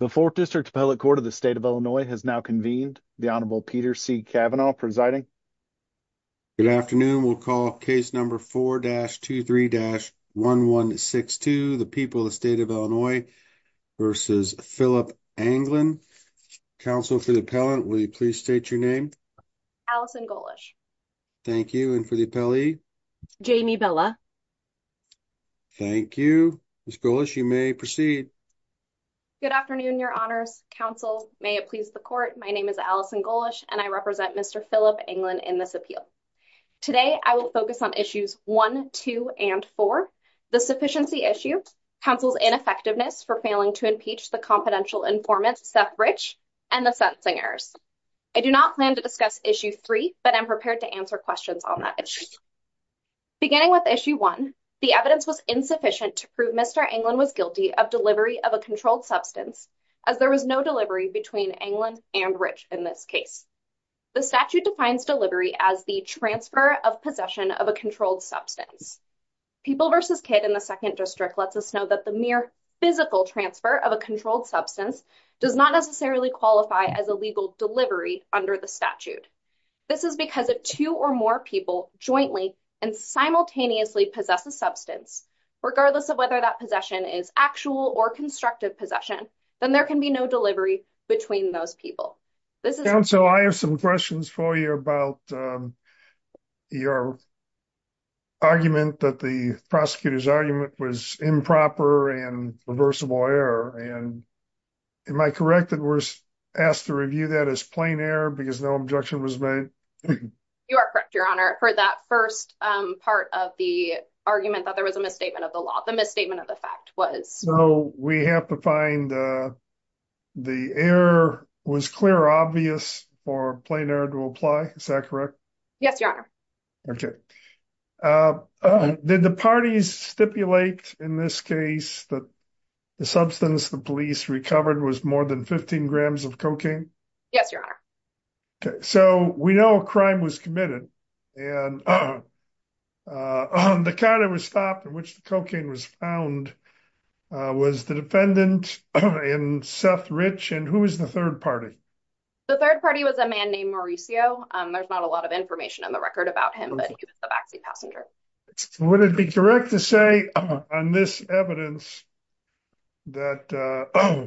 the fourth district appellate court of the state of illinois has now convened the honorable peter c cavanaugh presiding good afternoon we'll call case number 4-23-1162 the people of the state of illinois versus philip anglin counsel for the appellant will you please state your name allison golish thank you and for the appellee jamie bella thank you miss golish you may proceed good afternoon your honors counsel may it please the court my name is allison golish and i represent mr philip anglin in this appeal today i will focus on issues one two and four the sufficiency issue counsel's ineffectiveness for failing to impeach the confidential informant seth rich and the sentencing errors i do not plan to discuss issue three but i'm prepared to answer questions on that issue beginning with issue one the evidence was insufficient to prove mr anglin was guilty of delivery of a controlled substance as there was no delivery between anglin and rich in this case the statute defines delivery as the transfer of possession of a controlled substance people versus kid in the second district lets us know that the mere physical transfer of a controlled substance does not necessarily qualify as a legal delivery under the statute this is because if two or more people jointly and simultaneously possess a regardless of whether that possession is actual or constructive possession then there can be no delivery between those people this is so i have some questions for you about your argument that the prosecutor's argument was improper and reversible error and am i correct that we're asked to review that as plain error because no objection was made you are correct your honor for that first um part of the argument that there was a misstatement of the law the misstatement of the fact was so we have to find uh the error was clear obvious for plain error to apply is that correct yes your honor okay uh did the parties stipulate in this case that the substance the police recovered was more than 15 grams of cocaine yes your honor okay so we know a crime was committed and uh on the counter was stopped in which the cocaine was found uh was the defendant in seth rich and who was the third party the third party was a man named mauricio um there's not a lot of information on the record about him but he was the backseat passenger would it be correct to say on this evidence that uh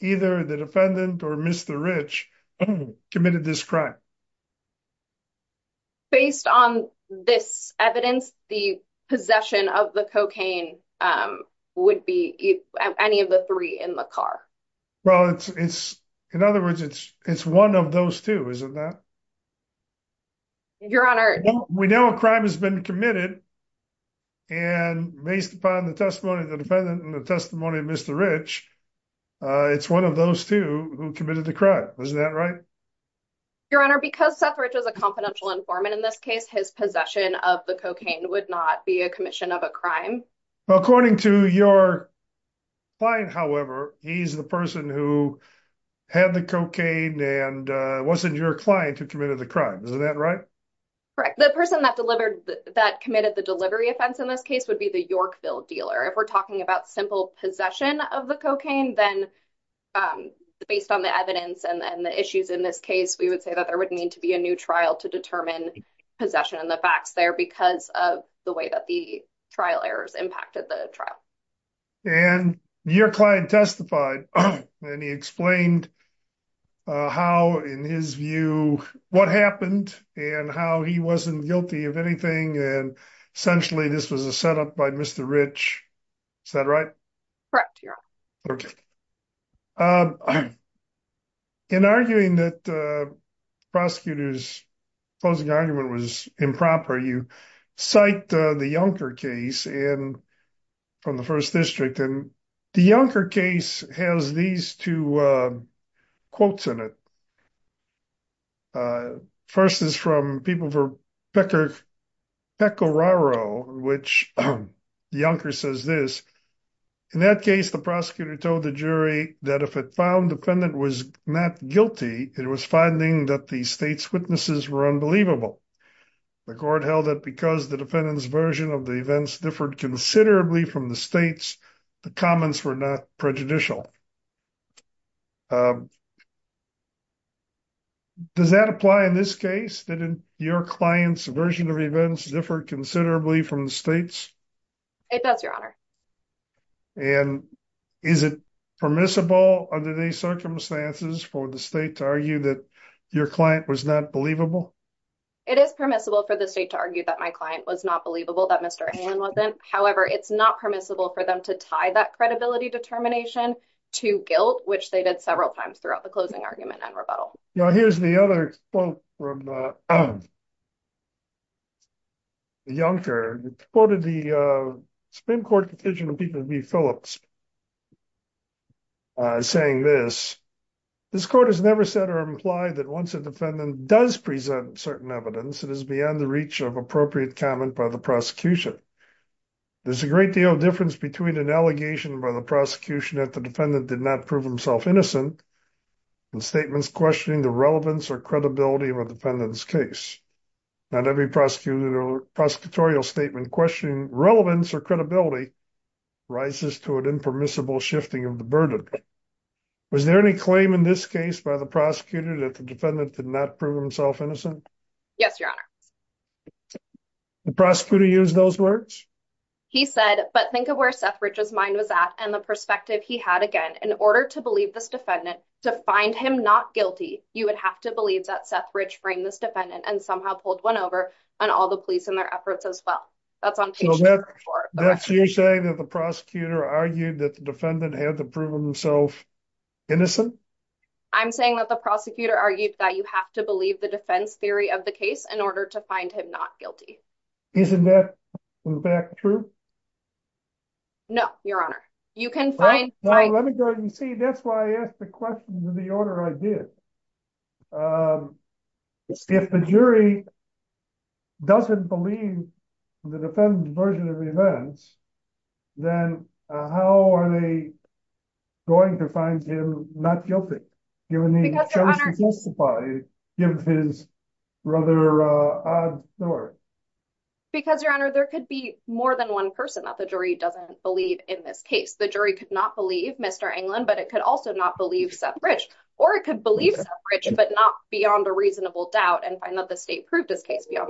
either the defendant or mr rich committed this crime based on this evidence the possession of the cocaine um would be any of the three in the car well it's it's in other words it's it's one of those two isn't that your honor we know a crime has been committed and based upon the testimony of the defendant and the testimony of mr rich uh it's one of those two who committed the crime isn't that right your honor because seth rich is a confidential informant in this case his possession of the cocaine would not be a commission of a crime well according to your client however he's the person who had the cocaine and uh wasn't your client who committed the crime isn't that right correct the person that delivered that committed the delivery offense in this case would be the dealer if we're talking about simple possession of the cocaine then um based on the evidence and the issues in this case we would say that there would need to be a new trial to determine possession and the facts there because of the way that the trial errors impacted the trial and your client testified and he explained uh how in his view what happened and how he wasn't guilty of anything and essentially this was a setup by mr rich is that right correct okay um in arguing that uh prosecutor's closing argument was improper you cite uh the yunker case in from the first district and the yunker case has these two uh quotes in it uh first is from people for pecker peck oraro which yunker says this in that case the prosecutor told the jury that if it found defendant was not guilty it was finding that the state's witnesses were unbelievable the court held that because the defendant's version of the events differed considerably from the state's the comments were not prejudicial uh um does that apply in this case didn't your client's version of events differ considerably from the state's it does your honor and is it permissible under these circumstances for the state to argue that your client was not believable it is permissible for the state to argue that my client was not believable that mr ann wasn't however it's not permissible for them to tie that credibility determination to guilt which they did several times throughout the closing argument and rebuttal now here's the other quote from the yunker quoted the uh supreme court petition of people b phillips uh saying this this court has never said or implied that once a defendant does present certain evidence it is beyond the reach of appropriate comment by the prosecution there's a great deal of difference between an allegation by the prosecution that the defendant did not prove himself innocent and statements questioning the relevance or credibility of a defendant's case not every prosecutor prosecutorial statement questioning relevance or credibility rises to an impermissible shifting of the burden was there any claim in this case by the prosecutor that the defendant did not prove himself innocent yes your honor the prosecutor used those words he said but think of where seth rich's mind was at and the perspective he had again in order to believe this defendant to find him not guilty you would have to believe that seth rich framed this defendant and somehow pulled one over on all the police and their efforts as well that's on that you're saying that the prosecutor argued that the defendant had to prove himself innocent i'm saying that the prosecutor argued that you have to believe the defense theory of the case in order to find him not guilty isn't that back true no your honor you can find let me go ahead and see that's why i asked the question to the order i did um if the jury doesn't believe the defendant's version of events then how are they going to find him not guilty given the given his rather uh odd story because your honor there could be more than one person that the jury doesn't believe in this case the jury could not believe mr anglin but it could also not believe seth rich or it could believe rich but not beyond a reasonable doubt and find that the state proved a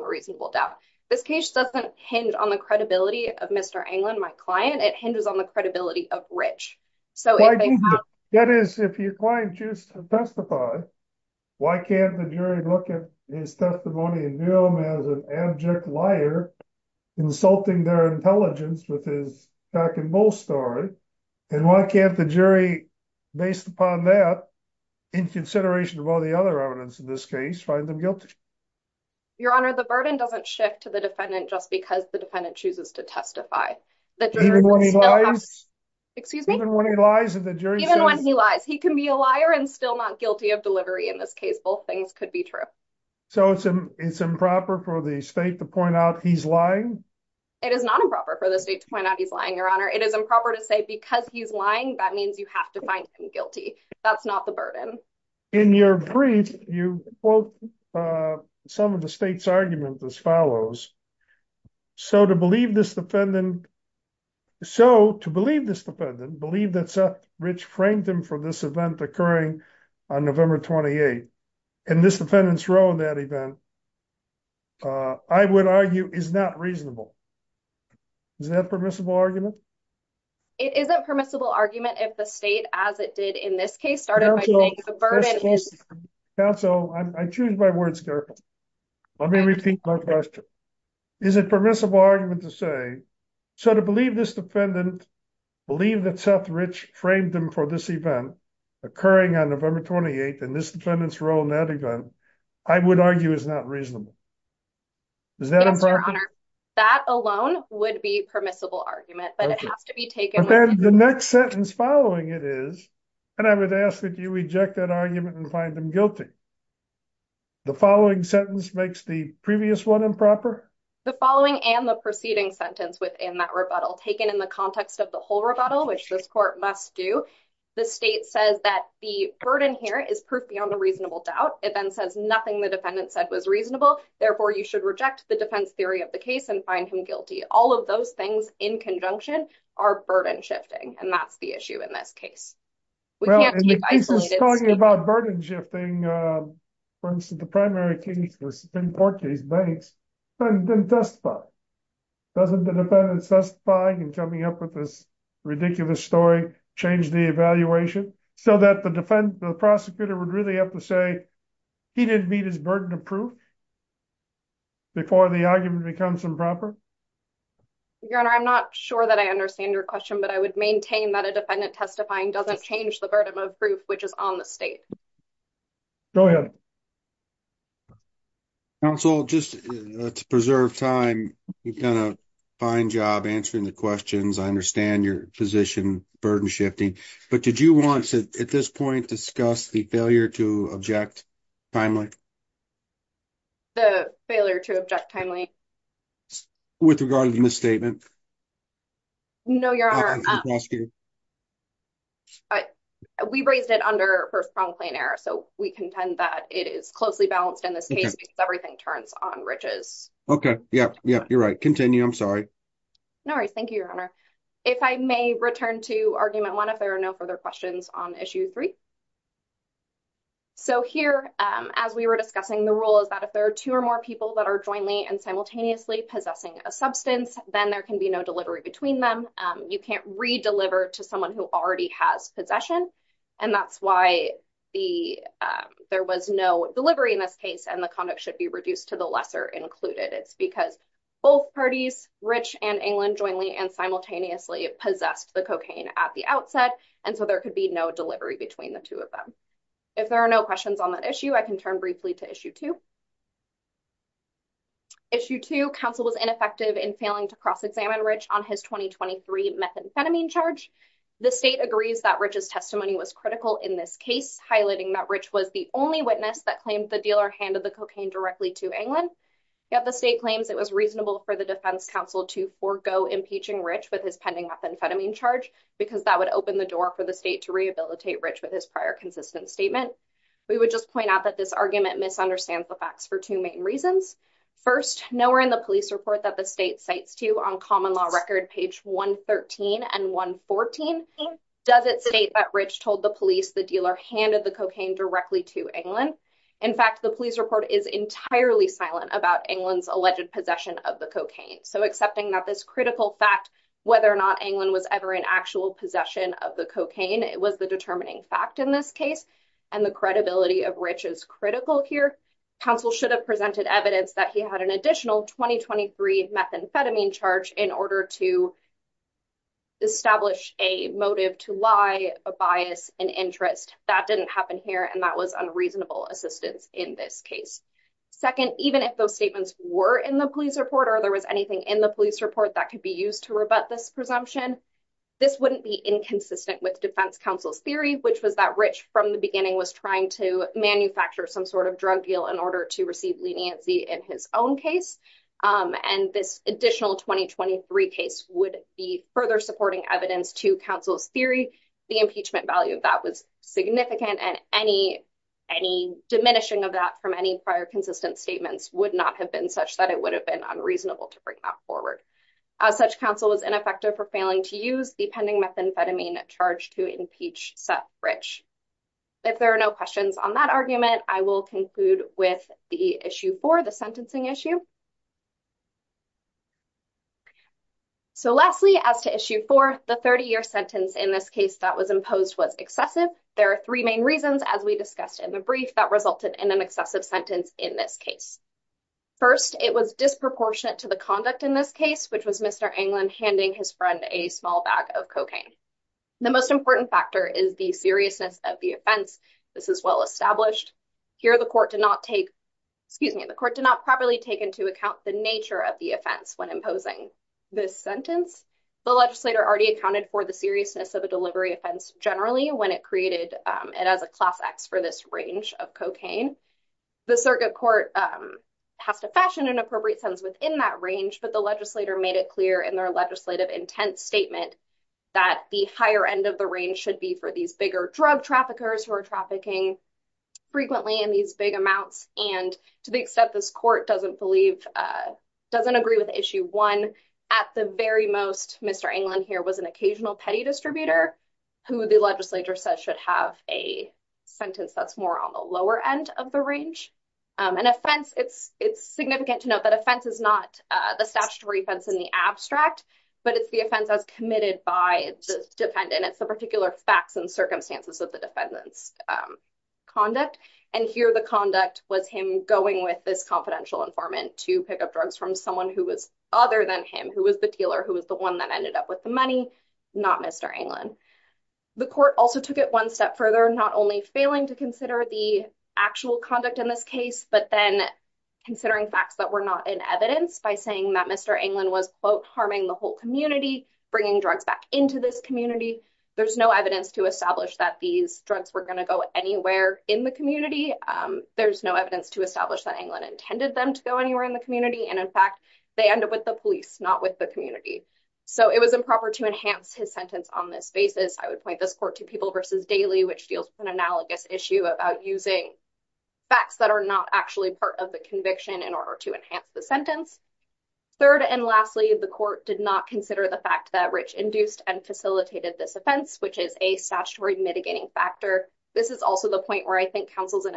reasonable doubt this case doesn't hinge on the credibility of mr anglin my client it hinges on the credibility of rich so that is if your client choose to testify why can't the jury look at his testimony and view him as an abject liar insulting their intelligence with his jack and bull story and why can't the jury based upon that in consideration of all the other evidence in this case find them guilty your honor the burden doesn't shift to the defendant just because the defendant chooses to testify that excuse me when he lies in the jury even when he lies he can be a liar and still not guilty of delivery in this case both things could be true so it's an it's improper for the state to point out he's lying it is not improper for the state to point out he's lying your honor it is improper to say because he's lying that means you have to that's not the burden in your brief you quote uh some of the state's argument as follows so to believe this defendant so to believe this defendant believe that seth rich framed them for this event occurring on november 28th and this defendant's role in that event uh i would argue is not reasonable is that permissible argument it isn't permissible argument if the state as it did in this case started the burden council i choose my words let me repeat my question is it permissible argument to say so to believe this defendant believe that seth rich framed them for this event occurring on november 28th and this defendant's role in that event i would argue is not reasonable is that your honor that alone would be permissible argument but it has to be taken the next sentence following it is and i would ask that you reject that argument and find them guilty the following sentence makes the previous one improper the following and the preceding sentence within that rebuttal taken in the context of the whole rebuttal which this court must do the state says that the burden here is proof beyond a reasonable doubt it then says nothing the defendant said was reasonable therefore you should reject the defense theory of the case and find him guilty all of those things in conjunction are burden shifting and that's the issue in this case we can't keep talking about burden shifting uh for instance the primary case was import these banks but it didn't testify doesn't the defendant's testifying and coming up with this ridiculous story change the evaluation so that the defense the prosecutor would really have to say he didn't burden of proof before the argument becomes improper your honor i'm not sure that i understand your question but i would maintain that a defendant testifying doesn't change the burden of proof which is on the state go ahead counsel just to preserve time you've done a fine job answering the questions i understand your position burden shifting but did you want to at this point discuss the failure to object timely the failure to object timely with regard to the misstatement no your honor we raised it under first prompt plain error so we contend that it is closely balanced in this case because everything turns on riches okay yeah yeah you're right continue i'm sorry no worries thank you your honor if i may return to argument one if there are no further questions on issue three so here as we were discussing the rule is that if there are two or more people that are jointly and simultaneously possessing a substance then there can be no delivery between them you can't redeliver to someone who already has possession and that's why the there was no delivery in this case and the conduct should be reduced to the lesser included it's because both parties rich and england jointly and simultaneously possessed the cocaine at the outset and so there could be no between the two of them if there are no questions on that issue i can turn briefly to issue two issue two council was ineffective in failing to cross-examine rich on his 2023 methamphetamine charge the state agrees that riches testimony was critical in this case highlighting that rich was the only witness that claimed the dealer handed the cocaine directly to england yet the state claims it was reasonable for the defense council to forego impeaching rich with pending methamphetamine charge because that would open the door for the state to rehabilitate rich with his prior consistent statement we would just point out that this argument misunderstands the facts for two main reasons first nowhere in the police report that the state cites to you on common law record page 113 and 114 does it state that rich told the police the dealer handed the cocaine directly to england in fact the police report is entirely silent about england's alleged possession of the cocaine so accepting that this critical fact whether or not england was ever in actual possession of the cocaine it was the determining fact in this case and the credibility of rich is critical here council should have presented evidence that he had an additional 2023 methamphetamine charge in order to establish a motive to lie a bias an interest that didn't happen here and that was unreasonable assistance in this case second even if those statements were in the police report or there was anything in the police report that could be used to rebut this presumption this wouldn't be inconsistent with defense counsel's theory which was that rich from the beginning was trying to manufacture some sort of drug deal in order to receive leniency in his own case and this additional 2023 case would be further supporting evidence to counsel's theory the impeachment value of that was significant and any any diminishing of that from any prior statements would not have been such that it would have been unreasonable to bring that forward as such counsel was ineffective for failing to use the pending methamphetamine charge to impeach set rich if there are no questions on that argument i will conclude with the issue for the sentencing issue so lastly as to issue for the 30-year sentence in this case that was imposed was excessive there are three main reasons as we discussed in the brief that resulted in an sentence in this case first it was disproportionate to the conduct in this case which was mr anglin handing his friend a small bag of cocaine the most important factor is the seriousness of the offense this is well established here the court did not take excuse me the court did not properly take into account the nature of the offense when imposing this sentence the legislator already accounted for the seriousness of a delivery offense generally when it created it as a class for this range of cocaine the circuit court um has to fashion an appropriate sense within that range but the legislator made it clear in their legislative intent statement that the higher end of the range should be for these bigger drug traffickers who are trafficking frequently in these big amounts and to the extent this court doesn't believe uh doesn't agree with issue one at the very most mr anglin here was an occasional petty distributor who the legislature says should have a sentence that's more on the lower end of the range um an offense it's it's significant to note that offense is not uh the statutory offense in the abstract but it's the offense that's committed by the defendant it's the particular facts and circumstances of the defendant's um conduct and here the conduct was him going with this confidential informant to pick up drugs from someone who was other than him who was the dealer who was the one that ended up with the money not mr anglin the court also took it one step further not only failing to consider the actual conduct in this case but then considering facts that were not in evidence by saying that mr anglin was quote harming the whole community bringing drugs back into this community there's no evidence to establish that these drugs were going to go anywhere in the community um there's no evidence to establish that anglin intended them to go anywhere in the community and in fact they end up with the police not with the community so it was improper to enhance his sentence on this basis i would point this court to people versus daily which deals with an analogous issue about using facts that are not actually part of the conviction in order to enhance the sentence third and lastly the court did not consider the fact that rich induced and facilitated this offense which is a statutory mitigating factor this is also the point where i think counsels and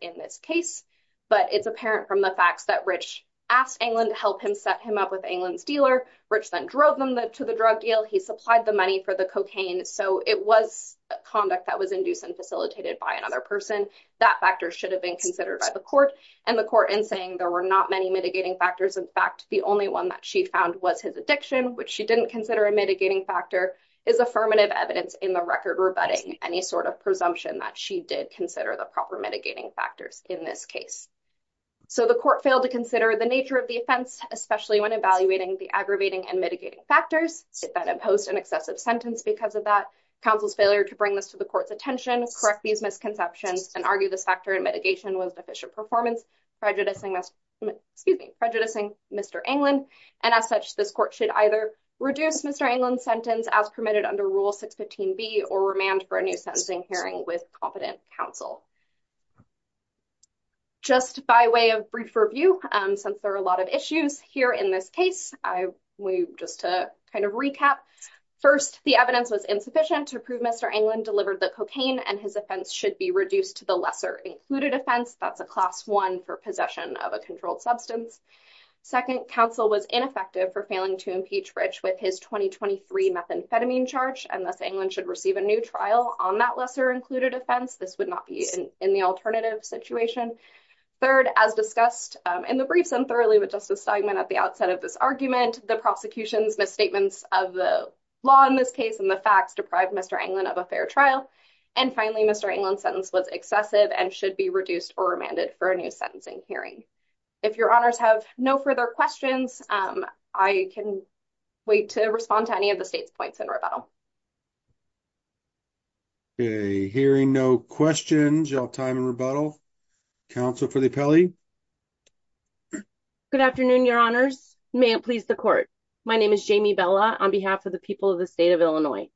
in this case but it's apparent from the facts that rich asked anglin to help him set him up with anglin's dealer rich then drove them to the drug deal he supplied the money for the cocaine so it was conduct that was induced and facilitated by another person that factor should have been considered by the court and the court in saying there were not many mitigating factors in fact the only one that she found was his addiction which she didn't consider a mitigating factor is affirmative evidence in the record rebutting any sort of presumption that she did consider the proper mitigating factors in this case so the court failed to consider the nature of the offense especially when evaluating the aggravating and mitigating factors that imposed an excessive sentence because of that counsel's failure to bring this to the court's attention correct these misconceptions and argue this factor in mitigation was deficient performance prejudicing excuse me prejudicing mr anglin and as such this court should either reduce mr anglin's sentence as under rule 615 b or remand for a new sentencing hearing with competent counsel just by way of brief review um since there are a lot of issues here in this case i will just to kind of recap first the evidence was insufficient to prove mr anglin delivered the cocaine and his offense should be reduced to the lesser included offense that's a class one for possession of a controlled substance second counsel was ineffective for failing to impeach rich with his 2023 methamphetamine charge unless anglin should receive a new trial on that lesser included offense this would not be in the alternative situation third as discussed in the briefs and thoroughly with justice steigman at the outset of this argument the prosecution's misstatements of the law in this case and the facts deprived mr anglin of a fair trial and finally mr anglin's sentence was excessive and should be reduced or remanded for a new sentencing hearing if your points in rebuttal okay hearing no questions y'all time and rebuttal counsel for the appellee good afternoon your honors may it please the court my name is jamie bella on behalf of the people of the state of illinois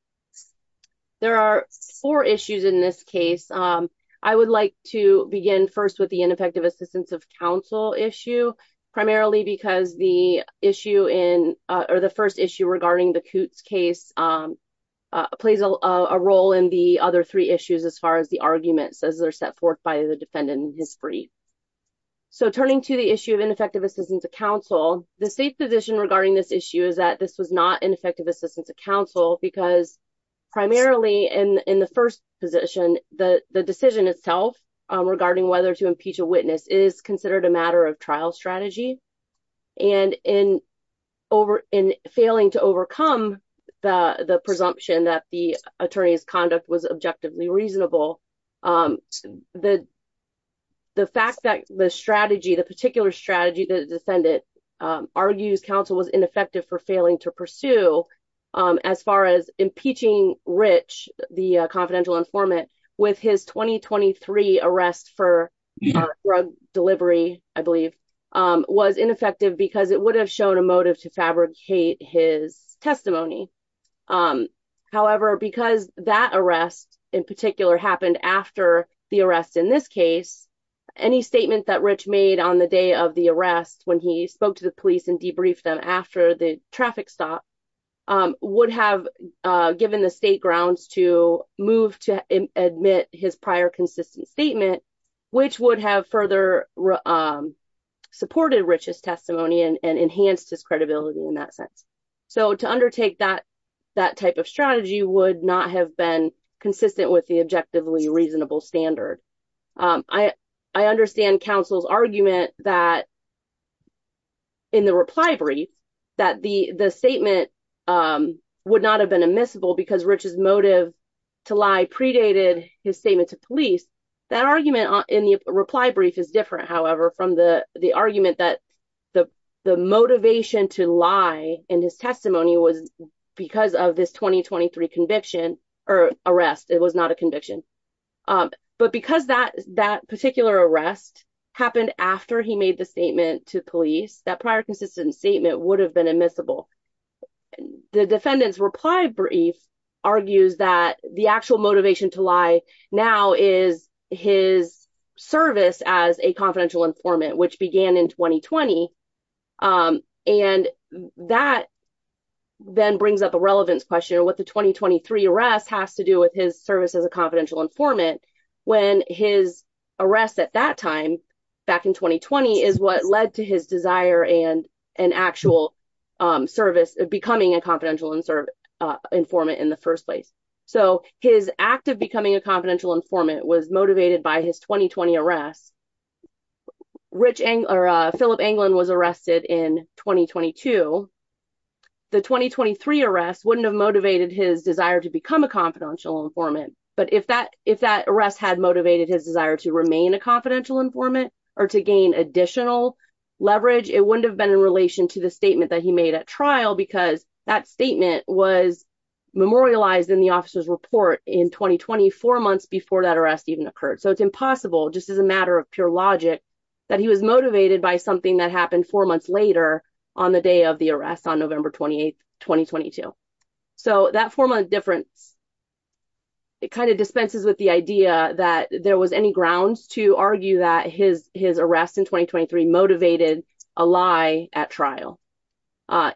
there are four issues in this case um i would like to begin first with the ineffective assistance of counsel issue primarily because the issue in uh or the first issue regarding the coots case um uh plays a role in the other three issues as far as the arguments as they're set forth by the defendant in history so turning to the issue of ineffective assistance of counsel the state position regarding this issue is that this was not ineffective assistance of counsel because primarily in in the first position the the decision itself regarding whether to impeach a witness is considered a matter of trial strategy and in over in failing to overcome the the presumption that the attorney's conduct was objectively reasonable um the the fact that the strategy the particular strategy the defendant argues counsel was ineffective for failing to pursue um as far as impeaching rich the confidential informant with his 2023 arrest for drug delivery i believe um was ineffective because it would have shown a motive to fabricate his testimony um however because that arrest in particular happened after the arrest in this case any statement that rich made on the day of the arrest when he spoke to the police and debriefed them after the traffic stop um would have uh given the state grounds to move to admit his prior consistent statement which would have further um supported richest testimony and enhanced his credibility in that sense so to undertake that that type of strategy would not have been consistent with the objectively reasonable standard um i i understand counsel's argument that in the reply brief that the the statement um would not have been admissible because rich's motive to lie predated his statement to police that argument in the reply brief is different however from the the argument that the the motivation to lie in his testimony was because of this 2023 conviction or arrest it was not a but because that that particular arrest happened after he made the statement to police that prior consistent statement would have been admissible the defendant's reply brief argues that the actual motivation to lie now is his service as a confidential informant which began in 2020 um and that then brings up a relevance question what the 2023 arrest has to do with his service as a confidential informant when his arrest at that time back in 2020 is what led to his desire and an actual um service of becoming a confidential and serve uh informant in the first place so his act of becoming a confidential informant was motivated by his 2020 arrest rich angler philip anglin was arrested in 2022 the 2023 arrest wouldn't have motivated his desire to become a confidential informant but if that if that arrest had motivated his desire to remain a confidential informant or to gain additional leverage it wouldn't have been in relation to the statement that he made at trial because that statement was memorialized in the officer's report in 2020 four months before that arrest even occurred so it's impossible just as a matter of pure logic that he was motivated by something that happened four months later on the day of arrest on november 28 2022 so that four month difference it kind of dispenses with the idea that there was any grounds to argue that his his arrest in 2023 motivated a lie at trial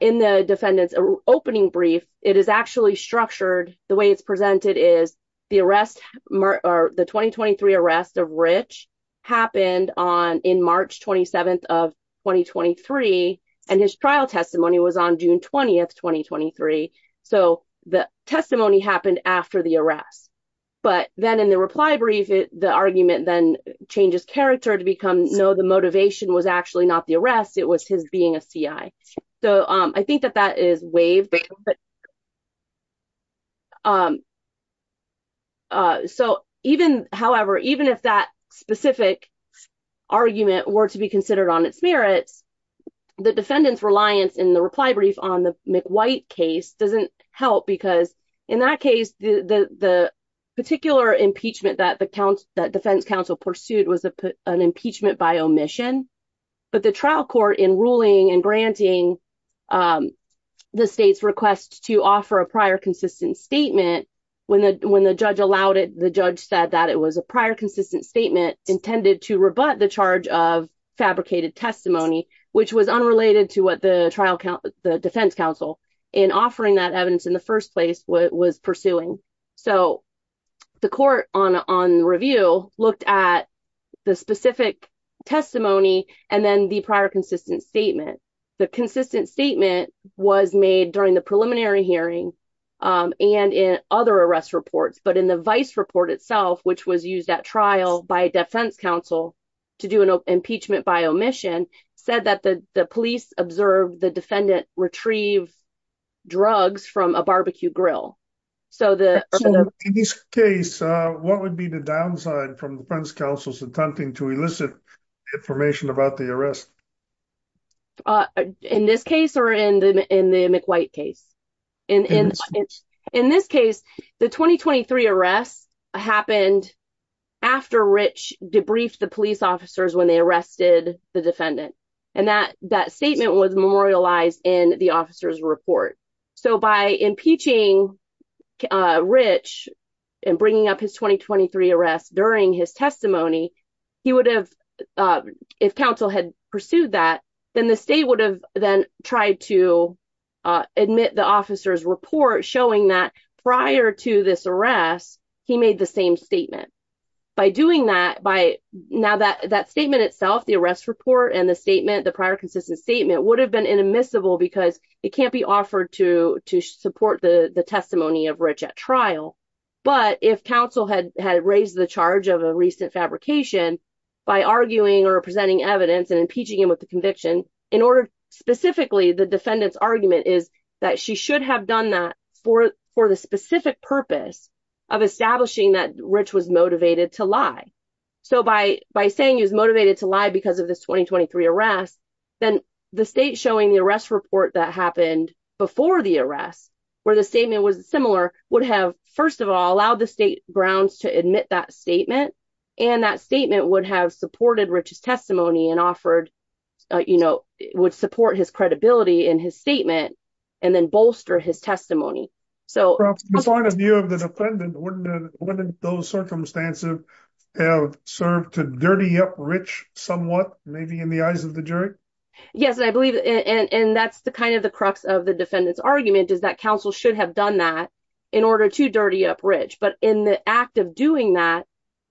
in the defendant's opening brief it is actually structured the way it's presented is the arrest or the 2023 arrest of rich happened on in march 27th of 2023 and his trial testimony was on june 20th 2023 so the testimony happened after the arrest but then in the reply brief the argument then changes character to become no the motivation was actually not the arrest it was his being a ci so um i think that that is waived um uh so even however even if that specific argument were to be considered on its merits the defendant's reliance in the reply brief on the mcwhite case doesn't help because in that case the the the particular impeachment that the count that defense counsel pursued was a put an impeachment by omission but the trial court in ruling and granting um the state's request to offer a prior consistent statement when the when the judge allowed it the judge said that it was a prior consistent statement intended to rebut the charge of fabricated testimony which was unrelated to what the trial count the defense counsel in offering that evidence in the first place what so the court on on review looked at the specific testimony and then the prior consistent statement the consistent statement was made during the preliminary hearing um and in other arrest reports but in the vice report itself which was used at trial by defense counsel to do an impeachment by omission said that the the police observed the defendant retrieved drugs from a so the case uh what would be the downside from defense counsel's attempting to elicit information about the arrest uh in this case or in the in the mcwhite case in in in this case the 2023 arrests happened after rich debriefed the police officers when they arrested the defendant and that that statement was memorialized in the officer's report so by impeaching rich and bringing up his 2023 arrests during his testimony he would have uh if counsel had pursued that then the state would have then tried to uh admit the officer's report showing that prior to this arrest he made the same statement by doing that by now that that statement itself the arrest report and the statement the prior consistent statement would have been inadmissible because it can't be offered to to support the the testimony of rich at trial but if counsel had had raised the charge of a recent fabrication by arguing or presenting evidence and impeaching him with the conviction in order specifically the defendant's argument is that she should have done that for for the specific purpose of establishing that rich was motivated to lie so by by saying he was motivated to lie because of this 2023 arrest then the state showing the arrest report that happened before the arrest where the statement was similar would have first of all allowed the state grounds to admit that statement and that statement would have supported rich's testimony and offered you know would support his credibility in his statement and then bolster his testimony so the point of view of the defendant wouldn't those circumstances have served to dirty up rich somewhat maybe in the eyes of the jury yes i believe and and that's the kind of the crux of the defendant's argument is that counsel should have done that in order to dirty up rich but in the act of doing that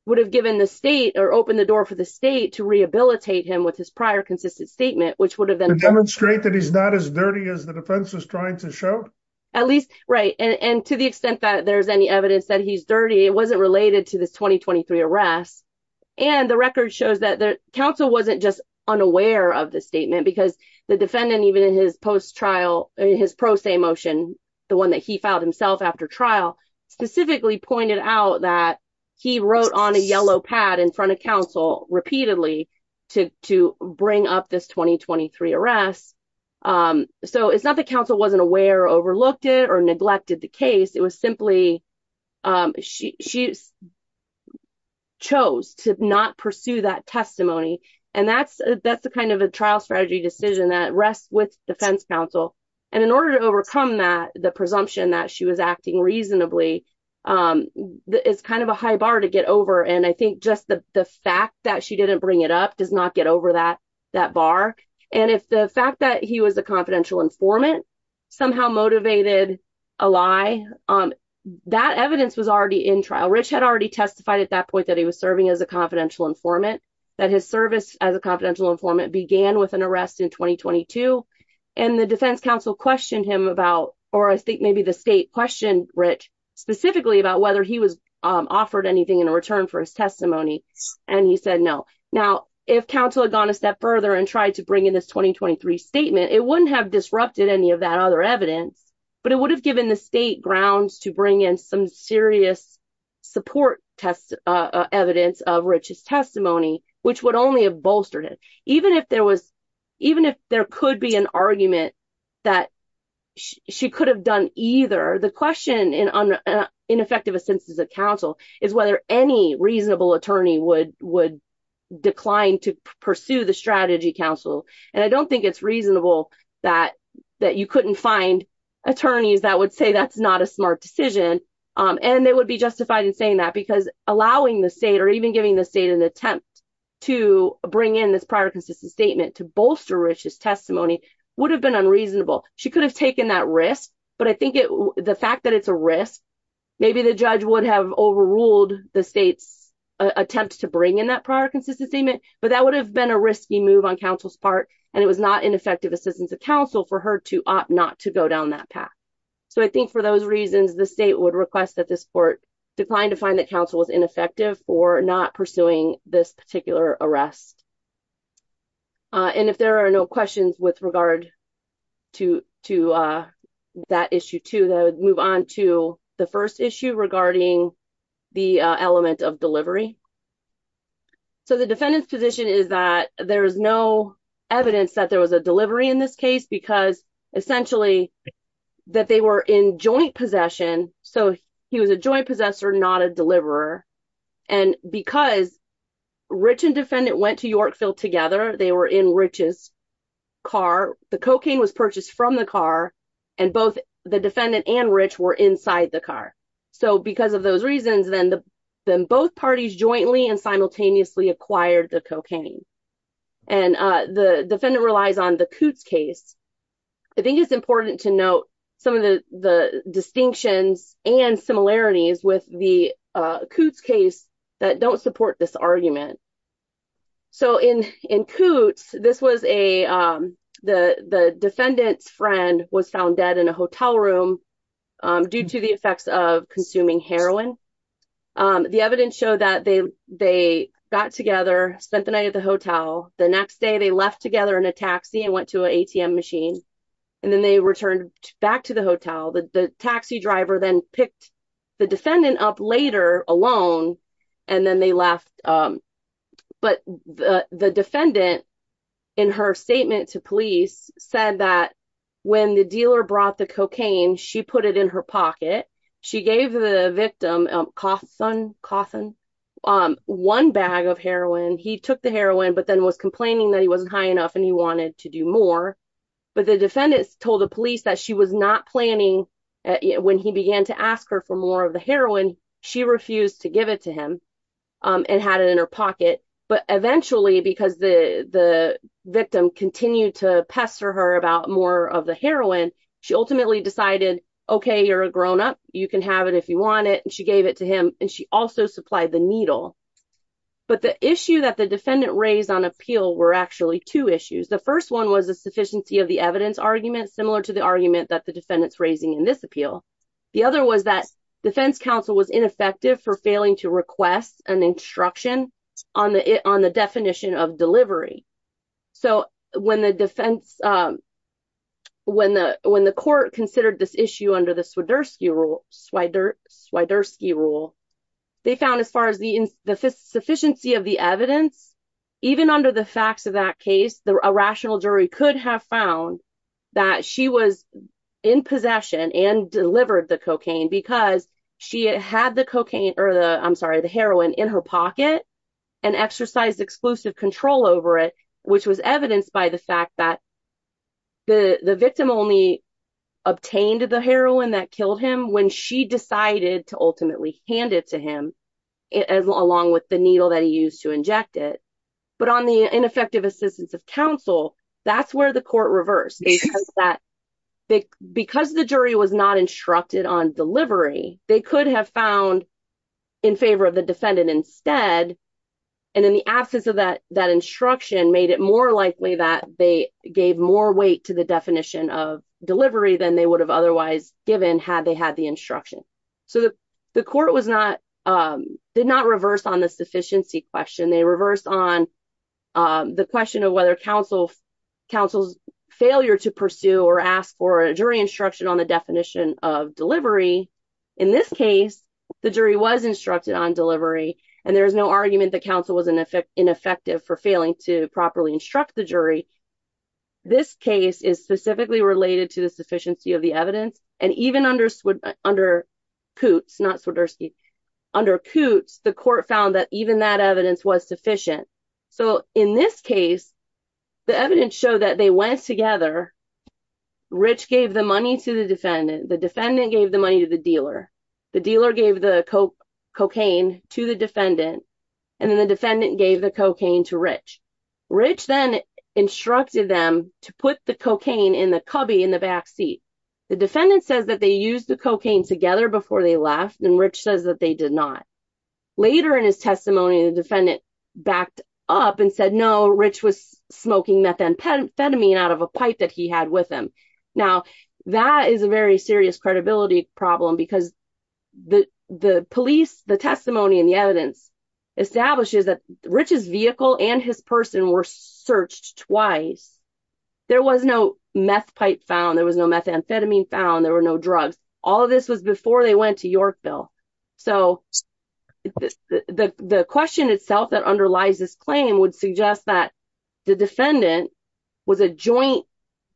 would have given the state or opened the door for the state to rehabilitate him with his prior consistent statement which would have been demonstrate that he's not as dirty as the defense was trying to show at least right and and to the extent that there's any evidence that he's dirty it wasn't related to this 2023 arrest and the record shows that the counsel wasn't just unaware of the statement because the defendant even in his post-trial his pro se motion the one that he filed himself after trial specifically pointed out that he wrote on a yellow pad in front of counsel repeatedly to to bring up this 2023 arrest um so it's not the counsel wasn't aware overlooked it or neglected the case it was simply um she she chose to not pursue that testimony and that's that's the kind of a trial strategy decision that rests with defense counsel and in order to overcome that the presumption that she was acting reasonably um it's kind of a high bar to get over and i think just the the fact that she didn't bring it up does not get over that that bar and if the fact that he was a confidential informant somehow motivated a lie um that evidence was already in trial rich had already testified at that point that he was serving as a confidential informant that his service as a confidential informant began with an arrest in 2022 and the defense counsel questioned him about or i think maybe the state questioned rich specifically about whether he was um offered anything in return for his testimony and he said no now if counsel had gone a step further and tried to bring in this 2023 statement it wouldn't have disrupted any of that other evidence but it would have given the state grounds to bring in some serious support test uh evidence of riches testimony which would only have bolstered it even if there was even if there could be an argument that she could have done either the question in an ineffective assistance of counsel is whether any reasonable attorney would would decline to pursue the strategy counsel and i don't think it's reasonable that that you couldn't find attorneys that would say that's not a smart decision um and it would be justified in saying that because allowing the state or even giving the state an attempt to bring in this prior consistent statement to bolster riches testimony would have been unreasonable she could have taken that risk but i think it the fact that it's a risk maybe the judge would have overruled the state's attempt to bring in that prior consistent statement but that would have been a risky move on counsel's part and it was not ineffective assistance of counsel for her to opt not to go down that path so i think for those reasons the state would request that this court declined to find that counsel was ineffective for not pursuing this particular arrest uh and if there are no questions with regard to to uh that issue too though move on to the first issue regarding the element of delivery so the defendant's position is that there is no evidence that there was a delivery in this case because essentially that were in joint possession so he was a joint possessor not a deliverer and because rich and defendant went to yorkville together they were in riches car the cocaine was purchased from the car and both the defendant and rich were inside the car so because of those reasons then the then both parties jointly and simultaneously acquired the cocaine and uh the defendant relies on the coots case i think it's important to note some of the the distinctions and similarities with the uh coots case that don't support this argument so in in coots this was a um the the defendant's friend was found dead in a hotel room due to the effects of consuming heroin um the evidence showed that they they got together spent the night at the hotel the next day they left together in a taxi and went to an atm machine and then they returned back to the hotel the taxi driver then picked the defendant up later alone and then they left um but the the defendant in her statement to police said that when the dealer brought the cocaine she put it in her pocket she gave the victim a coffin coffin um one bag of heroin he took the heroin but then was complaining that he wasn't high enough and he wanted to do more but the defendants told the police that she was not planning when he began to ask her for more of the heroin she refused to give it to him um and had it in her pocket but eventually because the the victim continued to pester her about more of the heroin she ultimately decided okay you're a grown-up you can have it if you want it and gave it to him and she also supplied the needle but the issue that the defendant raised on appeal were actually two issues the first one was the sufficiency of the evidence argument similar to the argument that the defendant's raising in this appeal the other was that defense counsel was ineffective for failing to request an instruction on the on the definition of delivery so when the defense um when the when the court considered this issue under the swiderski rule swider swiderski rule they found as far as the ins the sufficiency of the evidence even under the facts of that case the irrational jury could have found that she was in possession and delivered the cocaine because she had the cocaine or the i'm sorry the heroin in her pocket and exercised exclusive control over it which was evidenced by the fact that the the victim only obtained the heroin that killed him when she decided to ultimately hand it to him as along with the needle that he used to inject it but on the ineffective assistance of counsel that's where the court reversed that they because the jury was not instructed on delivery they could have found in favor of defendant instead and in the absence of that that instruction made it more likely that they gave more weight to the definition of delivery than they would have otherwise given had they had the instruction so the the court was not um did not reverse on the sufficiency question they reversed on um the question of whether counsel counsel's failure to pursue or ask for a jury instruction on the definition of delivery in this case the jury was instructed on delivery and there's no argument that counsel was in effect ineffective for failing to properly instruct the jury this case is specifically related to the sufficiency of the evidence and even under under coots not swiderski under coots the court found that even that evidence was sufficient so in this case the evidence showed that they went together rich gave the money to the defendant the defendant gave the money to the dealer the dealer gave the coke cocaine to the defendant and then the defendant gave the cocaine to rich rich then instructed them to put the cocaine in the cubby in the back seat the defendant says that they used the cocaine together before they left and rich says that they did not later in his testimony the defendant backed up and said no rich was smoking methamphetamine out of a pipe that he had with him now that is a very serious credibility problem because the the police the testimony and the evidence establishes that rich's vehicle and his person were searched twice there was no meth pipe found there was no methamphetamine found there were no drugs all this was before they went to yorkville so the the question itself that underlies this claim would suggest that the defendant was a joint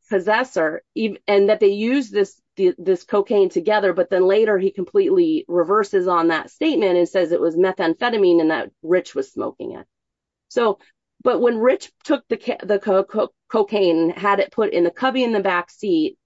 possessor and that they used this this cocaine together but then later he completely reverses on that statement and says it was methamphetamine and that rich was smoking it so but when rich took the cocaine had it put in the cubby in the back seat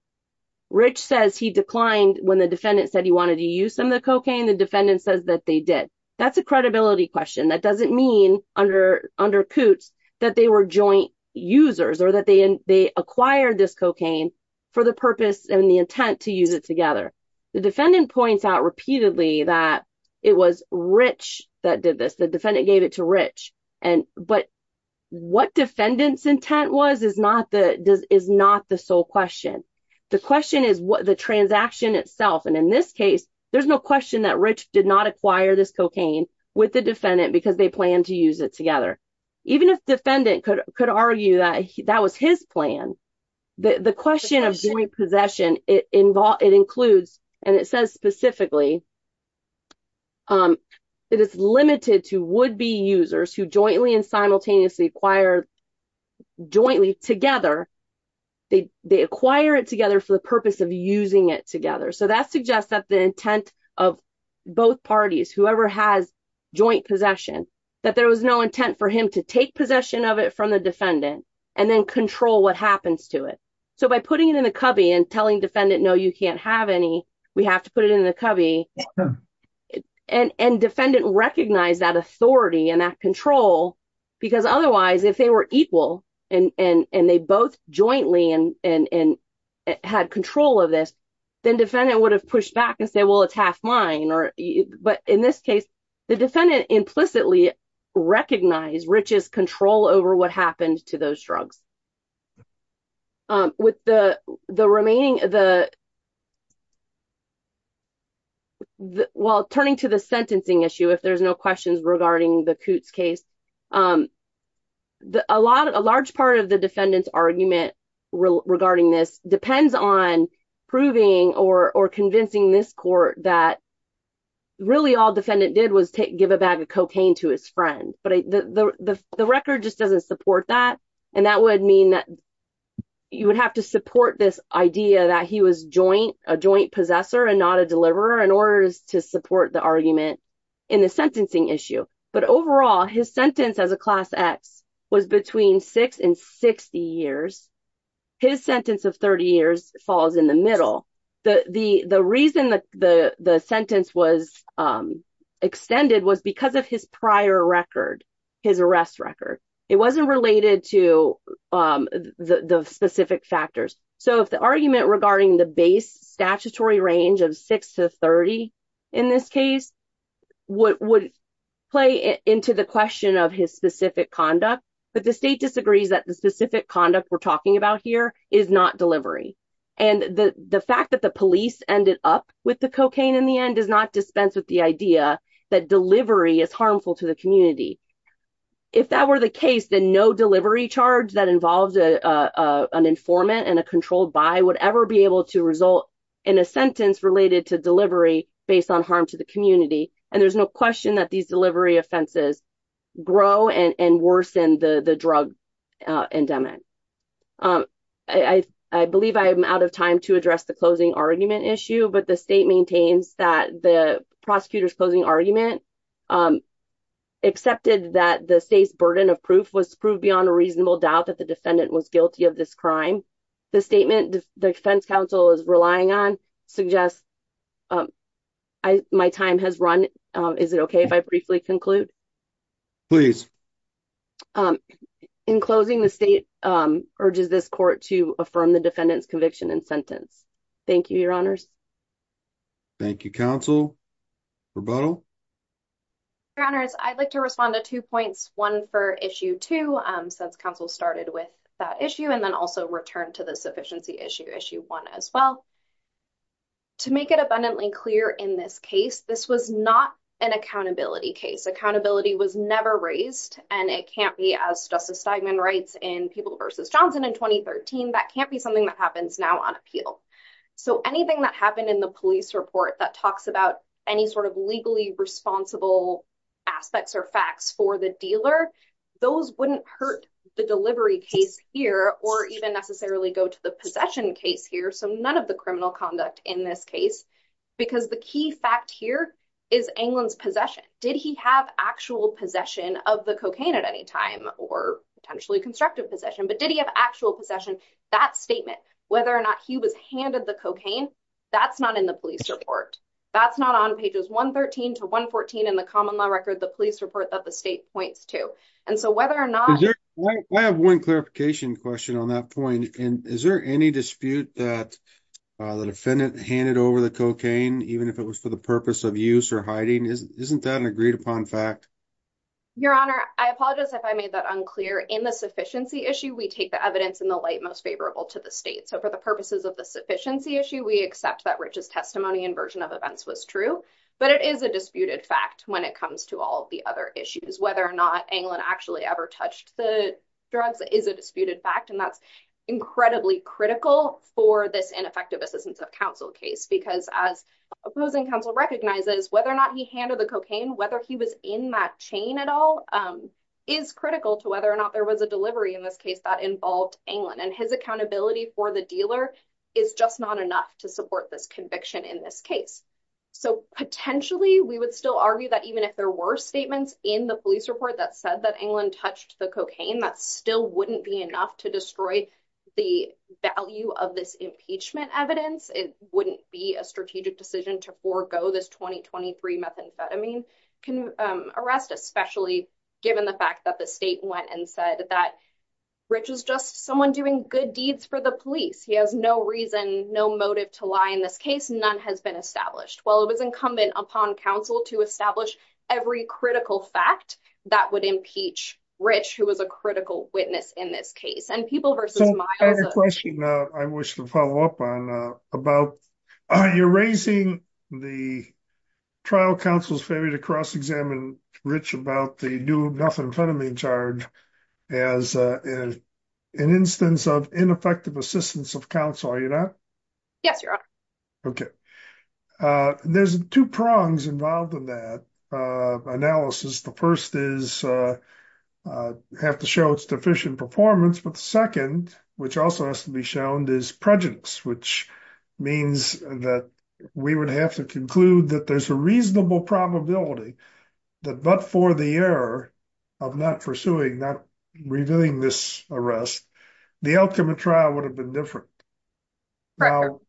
rich says he declined when the defendant said he wanted to use some of the cocaine the defendant says that they did that's a credibility question that doesn't mean under under coots that they were joint users or that they they acquired this cocaine for the purpose and the intent to use it together the defendant points out repeatedly that it was rich that did this the defendant gave it to rich and but what defendant's intent was is not the does not the sole question the question is what the transaction itself and in this case there's no question that rich did not acquire this cocaine with the defendant because they plan to use it together even if defendant could could argue that that was his plan the the question of joint possession it involved it includes and it says specifically um it is limited to would-be users who jointly and simultaneously acquired jointly together they they acquire it together for the purpose of using it together so that suggests that the intent of both parties whoever has joint possession that there was no intent for him to take possession of it from the defendant and then control what happens to it so by putting it in the cubby and telling defendant no you can't we have to put it in the cubby and and defendant recognized that authority and that control because otherwise if they were equal and and and they both jointly and and and had control of this then defendant would have pushed back and say well it's half mine or but in this case the defendant implicitly recognized riches control over what happened to those drugs um with the the remaining the while turning to the sentencing issue if there's no questions regarding the coots case um the a lot of a large part of the defendant's argument regarding this depends on proving or or convincing this court that really all defendant did was take give a bag of cocaine to his friend but the the the record just doesn't support that and that would mean that you would have to support this idea that he was joint a joint possessor and not a deliverer in order to support the argument in the sentencing issue but overall his sentence as a class x was between 6 and 60 years his sentence of 30 years falls in the middle the the the reason that the the sentence was um extended was because of his prior record his arrest record it wasn't related to um the the specific factors so if the argument regarding the base statutory range of 6 to 30 in this case what would play into the question of his specific conduct but the state disagrees that the specific conduct we're talking about here is not delivery and the the fact that the police ended up with cocaine in the end does not dispense with the idea that delivery is harmful to the community if that were the case then no delivery charge that involves a a an informant and a controlled by would ever be able to result in a sentence related to delivery based on harm to the community and there's no question that these delivery offenses grow and and worsen the the drug endowment um i i believe i am out of time to address the closing argument issue but the state maintains that the prosecutor's closing argument um accepted that the state's burden of proof was proved beyond a reasonable doubt that the defendant was guilty of this crime the statement the defense council is relying on suggests um i my time has run um is it okay if i briefly conclude please um in closing the state um urges this court to affirm the defendant's conviction and sentence thank you your honors thank you council rebuttal your honors i'd like to respond to two points one for issue two um since council started with that issue and then also return to the sufficiency issue issue one as well to make it abundantly clear in this case this was not an accountability case accountability was never raised and it can't be as justice steigman writes in people versus johnson in 2013 that can't be something that happens now on appeal so anything that happened in the police report that talks about any sort of legally responsible aspects or facts for the dealer those wouldn't hurt the delivery case here or even necessarily go to the possession case here so none of the criminal conduct in this case because the key fact here is anglin's possession did he have actual possession of the cocaine at any time or potentially constructive possession but did he have actual possession that statement whether or not he was handed the cocaine that's not in the police report that's not on pages 113 to 114 in the common law record the police report that the state points to and so whether or not i have one clarification question on that point and is there any dispute that uh the defendant handed over the even if it was for the purpose of use or hiding isn't that an agreed-upon fact your honor i apologize if i made that unclear in the sufficiency issue we take the evidence in the light most favorable to the state so for the purposes of the sufficiency issue we accept that rich's testimony and version of events was true but it is a disputed fact when it comes to all the other issues whether or not anglin actually ever touched the drugs is a disputed fact and that's incredibly critical for this ineffective assistance of counsel case because as opposing counsel recognizes whether or not he handed the cocaine whether he was in that chain at all um is critical to whether or not there was a delivery in this case that involved anglin and his accountability for the dealer is just not enough to support this conviction in this case so potentially we would still argue that even if there were statements in the police report that said that anglin touched the cocaine that still wouldn't be enough to destroy the value of this impeachment evidence it wouldn't be a strategic decision to forego this 2023 methamphetamine can arrest especially given the fact that the state went and said that rich is just someone doing good deeds for the police he has no reason no motive to lie in this case none has been while it was incumbent upon counsel to establish every critical fact that would impeach rich who was a critical witness in this case and people versus my other question uh i wish to follow up on uh about are you raising the trial counsel's favor to cross-examine rich about the new methamphetamine charge as uh an instance of ineffective assistance of counsel are you not yes your honor okay uh there's two prongs involved in that uh analysis the first is uh have to show its deficient performance but the second which also has to be shown is prejudice which means that we would have to conclude that there's a reasonable probability that but for the error of not pursuing not revealing this arrest the outcome of trial would have been different now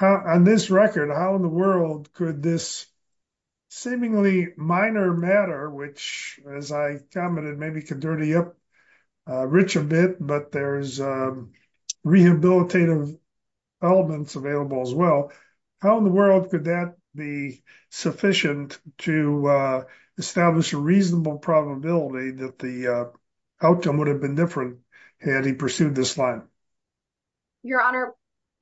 on this record how in the world could this seemingly minor matter which as i commented maybe can dirty up rich a bit but there's uh rehabilitative elements available as well how in the world could that be sufficient to uh establish a reasonable probability that the outcome would have been different had he pursued this line your honor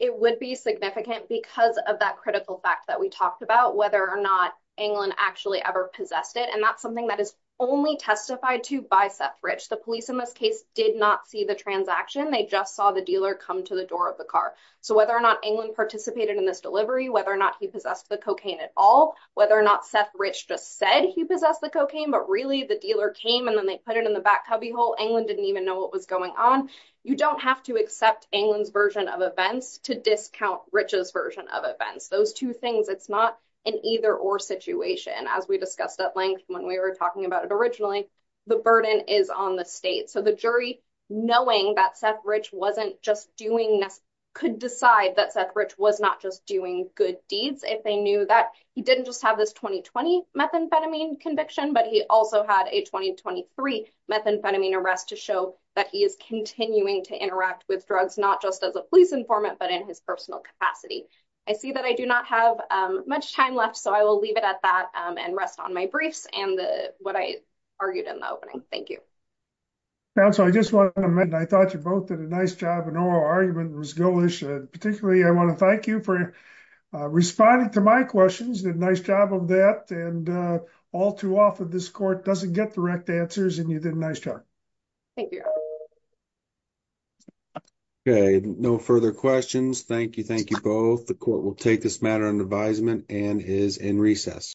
it would be significant because of that critical fact that we talked about whether or not anglin actually ever possessed it and that's something that is only testified to by seth rich the police in this case did not see the transaction they just saw the dealer come to the door of the car so whether or not anglin participated in this delivery whether or not he possessed the cocaine at all whether or not seth rich just said he possessed the cocaine but really the dealer came and then they put it in the back cubbyhole anglin didn't even know what was going on you don't have to accept anglin's version of events to discount rich's version of events those two things it's not an either or situation as we discussed at length when we were talking about it originally the burden is on the state so the jury knowing that seth rich wasn't just doing this could decide that seth rich was not just doing good deeds if they knew that he didn't just have this 2020 methamphetamine conviction but he also had a 2023 methamphetamine arrest to show that he is continuing to interact with drugs not just as a police informant but in his personal capacity i see that i do not have um much time left so i will leave it at that um and rest on my briefs and the what i argued in the opening thank you counsel i just want to amend i thought you both did a nice job in oral argument was ghoulish and particularly i want to thank you for responding to my questions did a nice job of that and uh all too often this court doesn't get direct answers and you did a nice job thank you okay no further questions thank you thank you both the court will take this matter under advisement and is in recess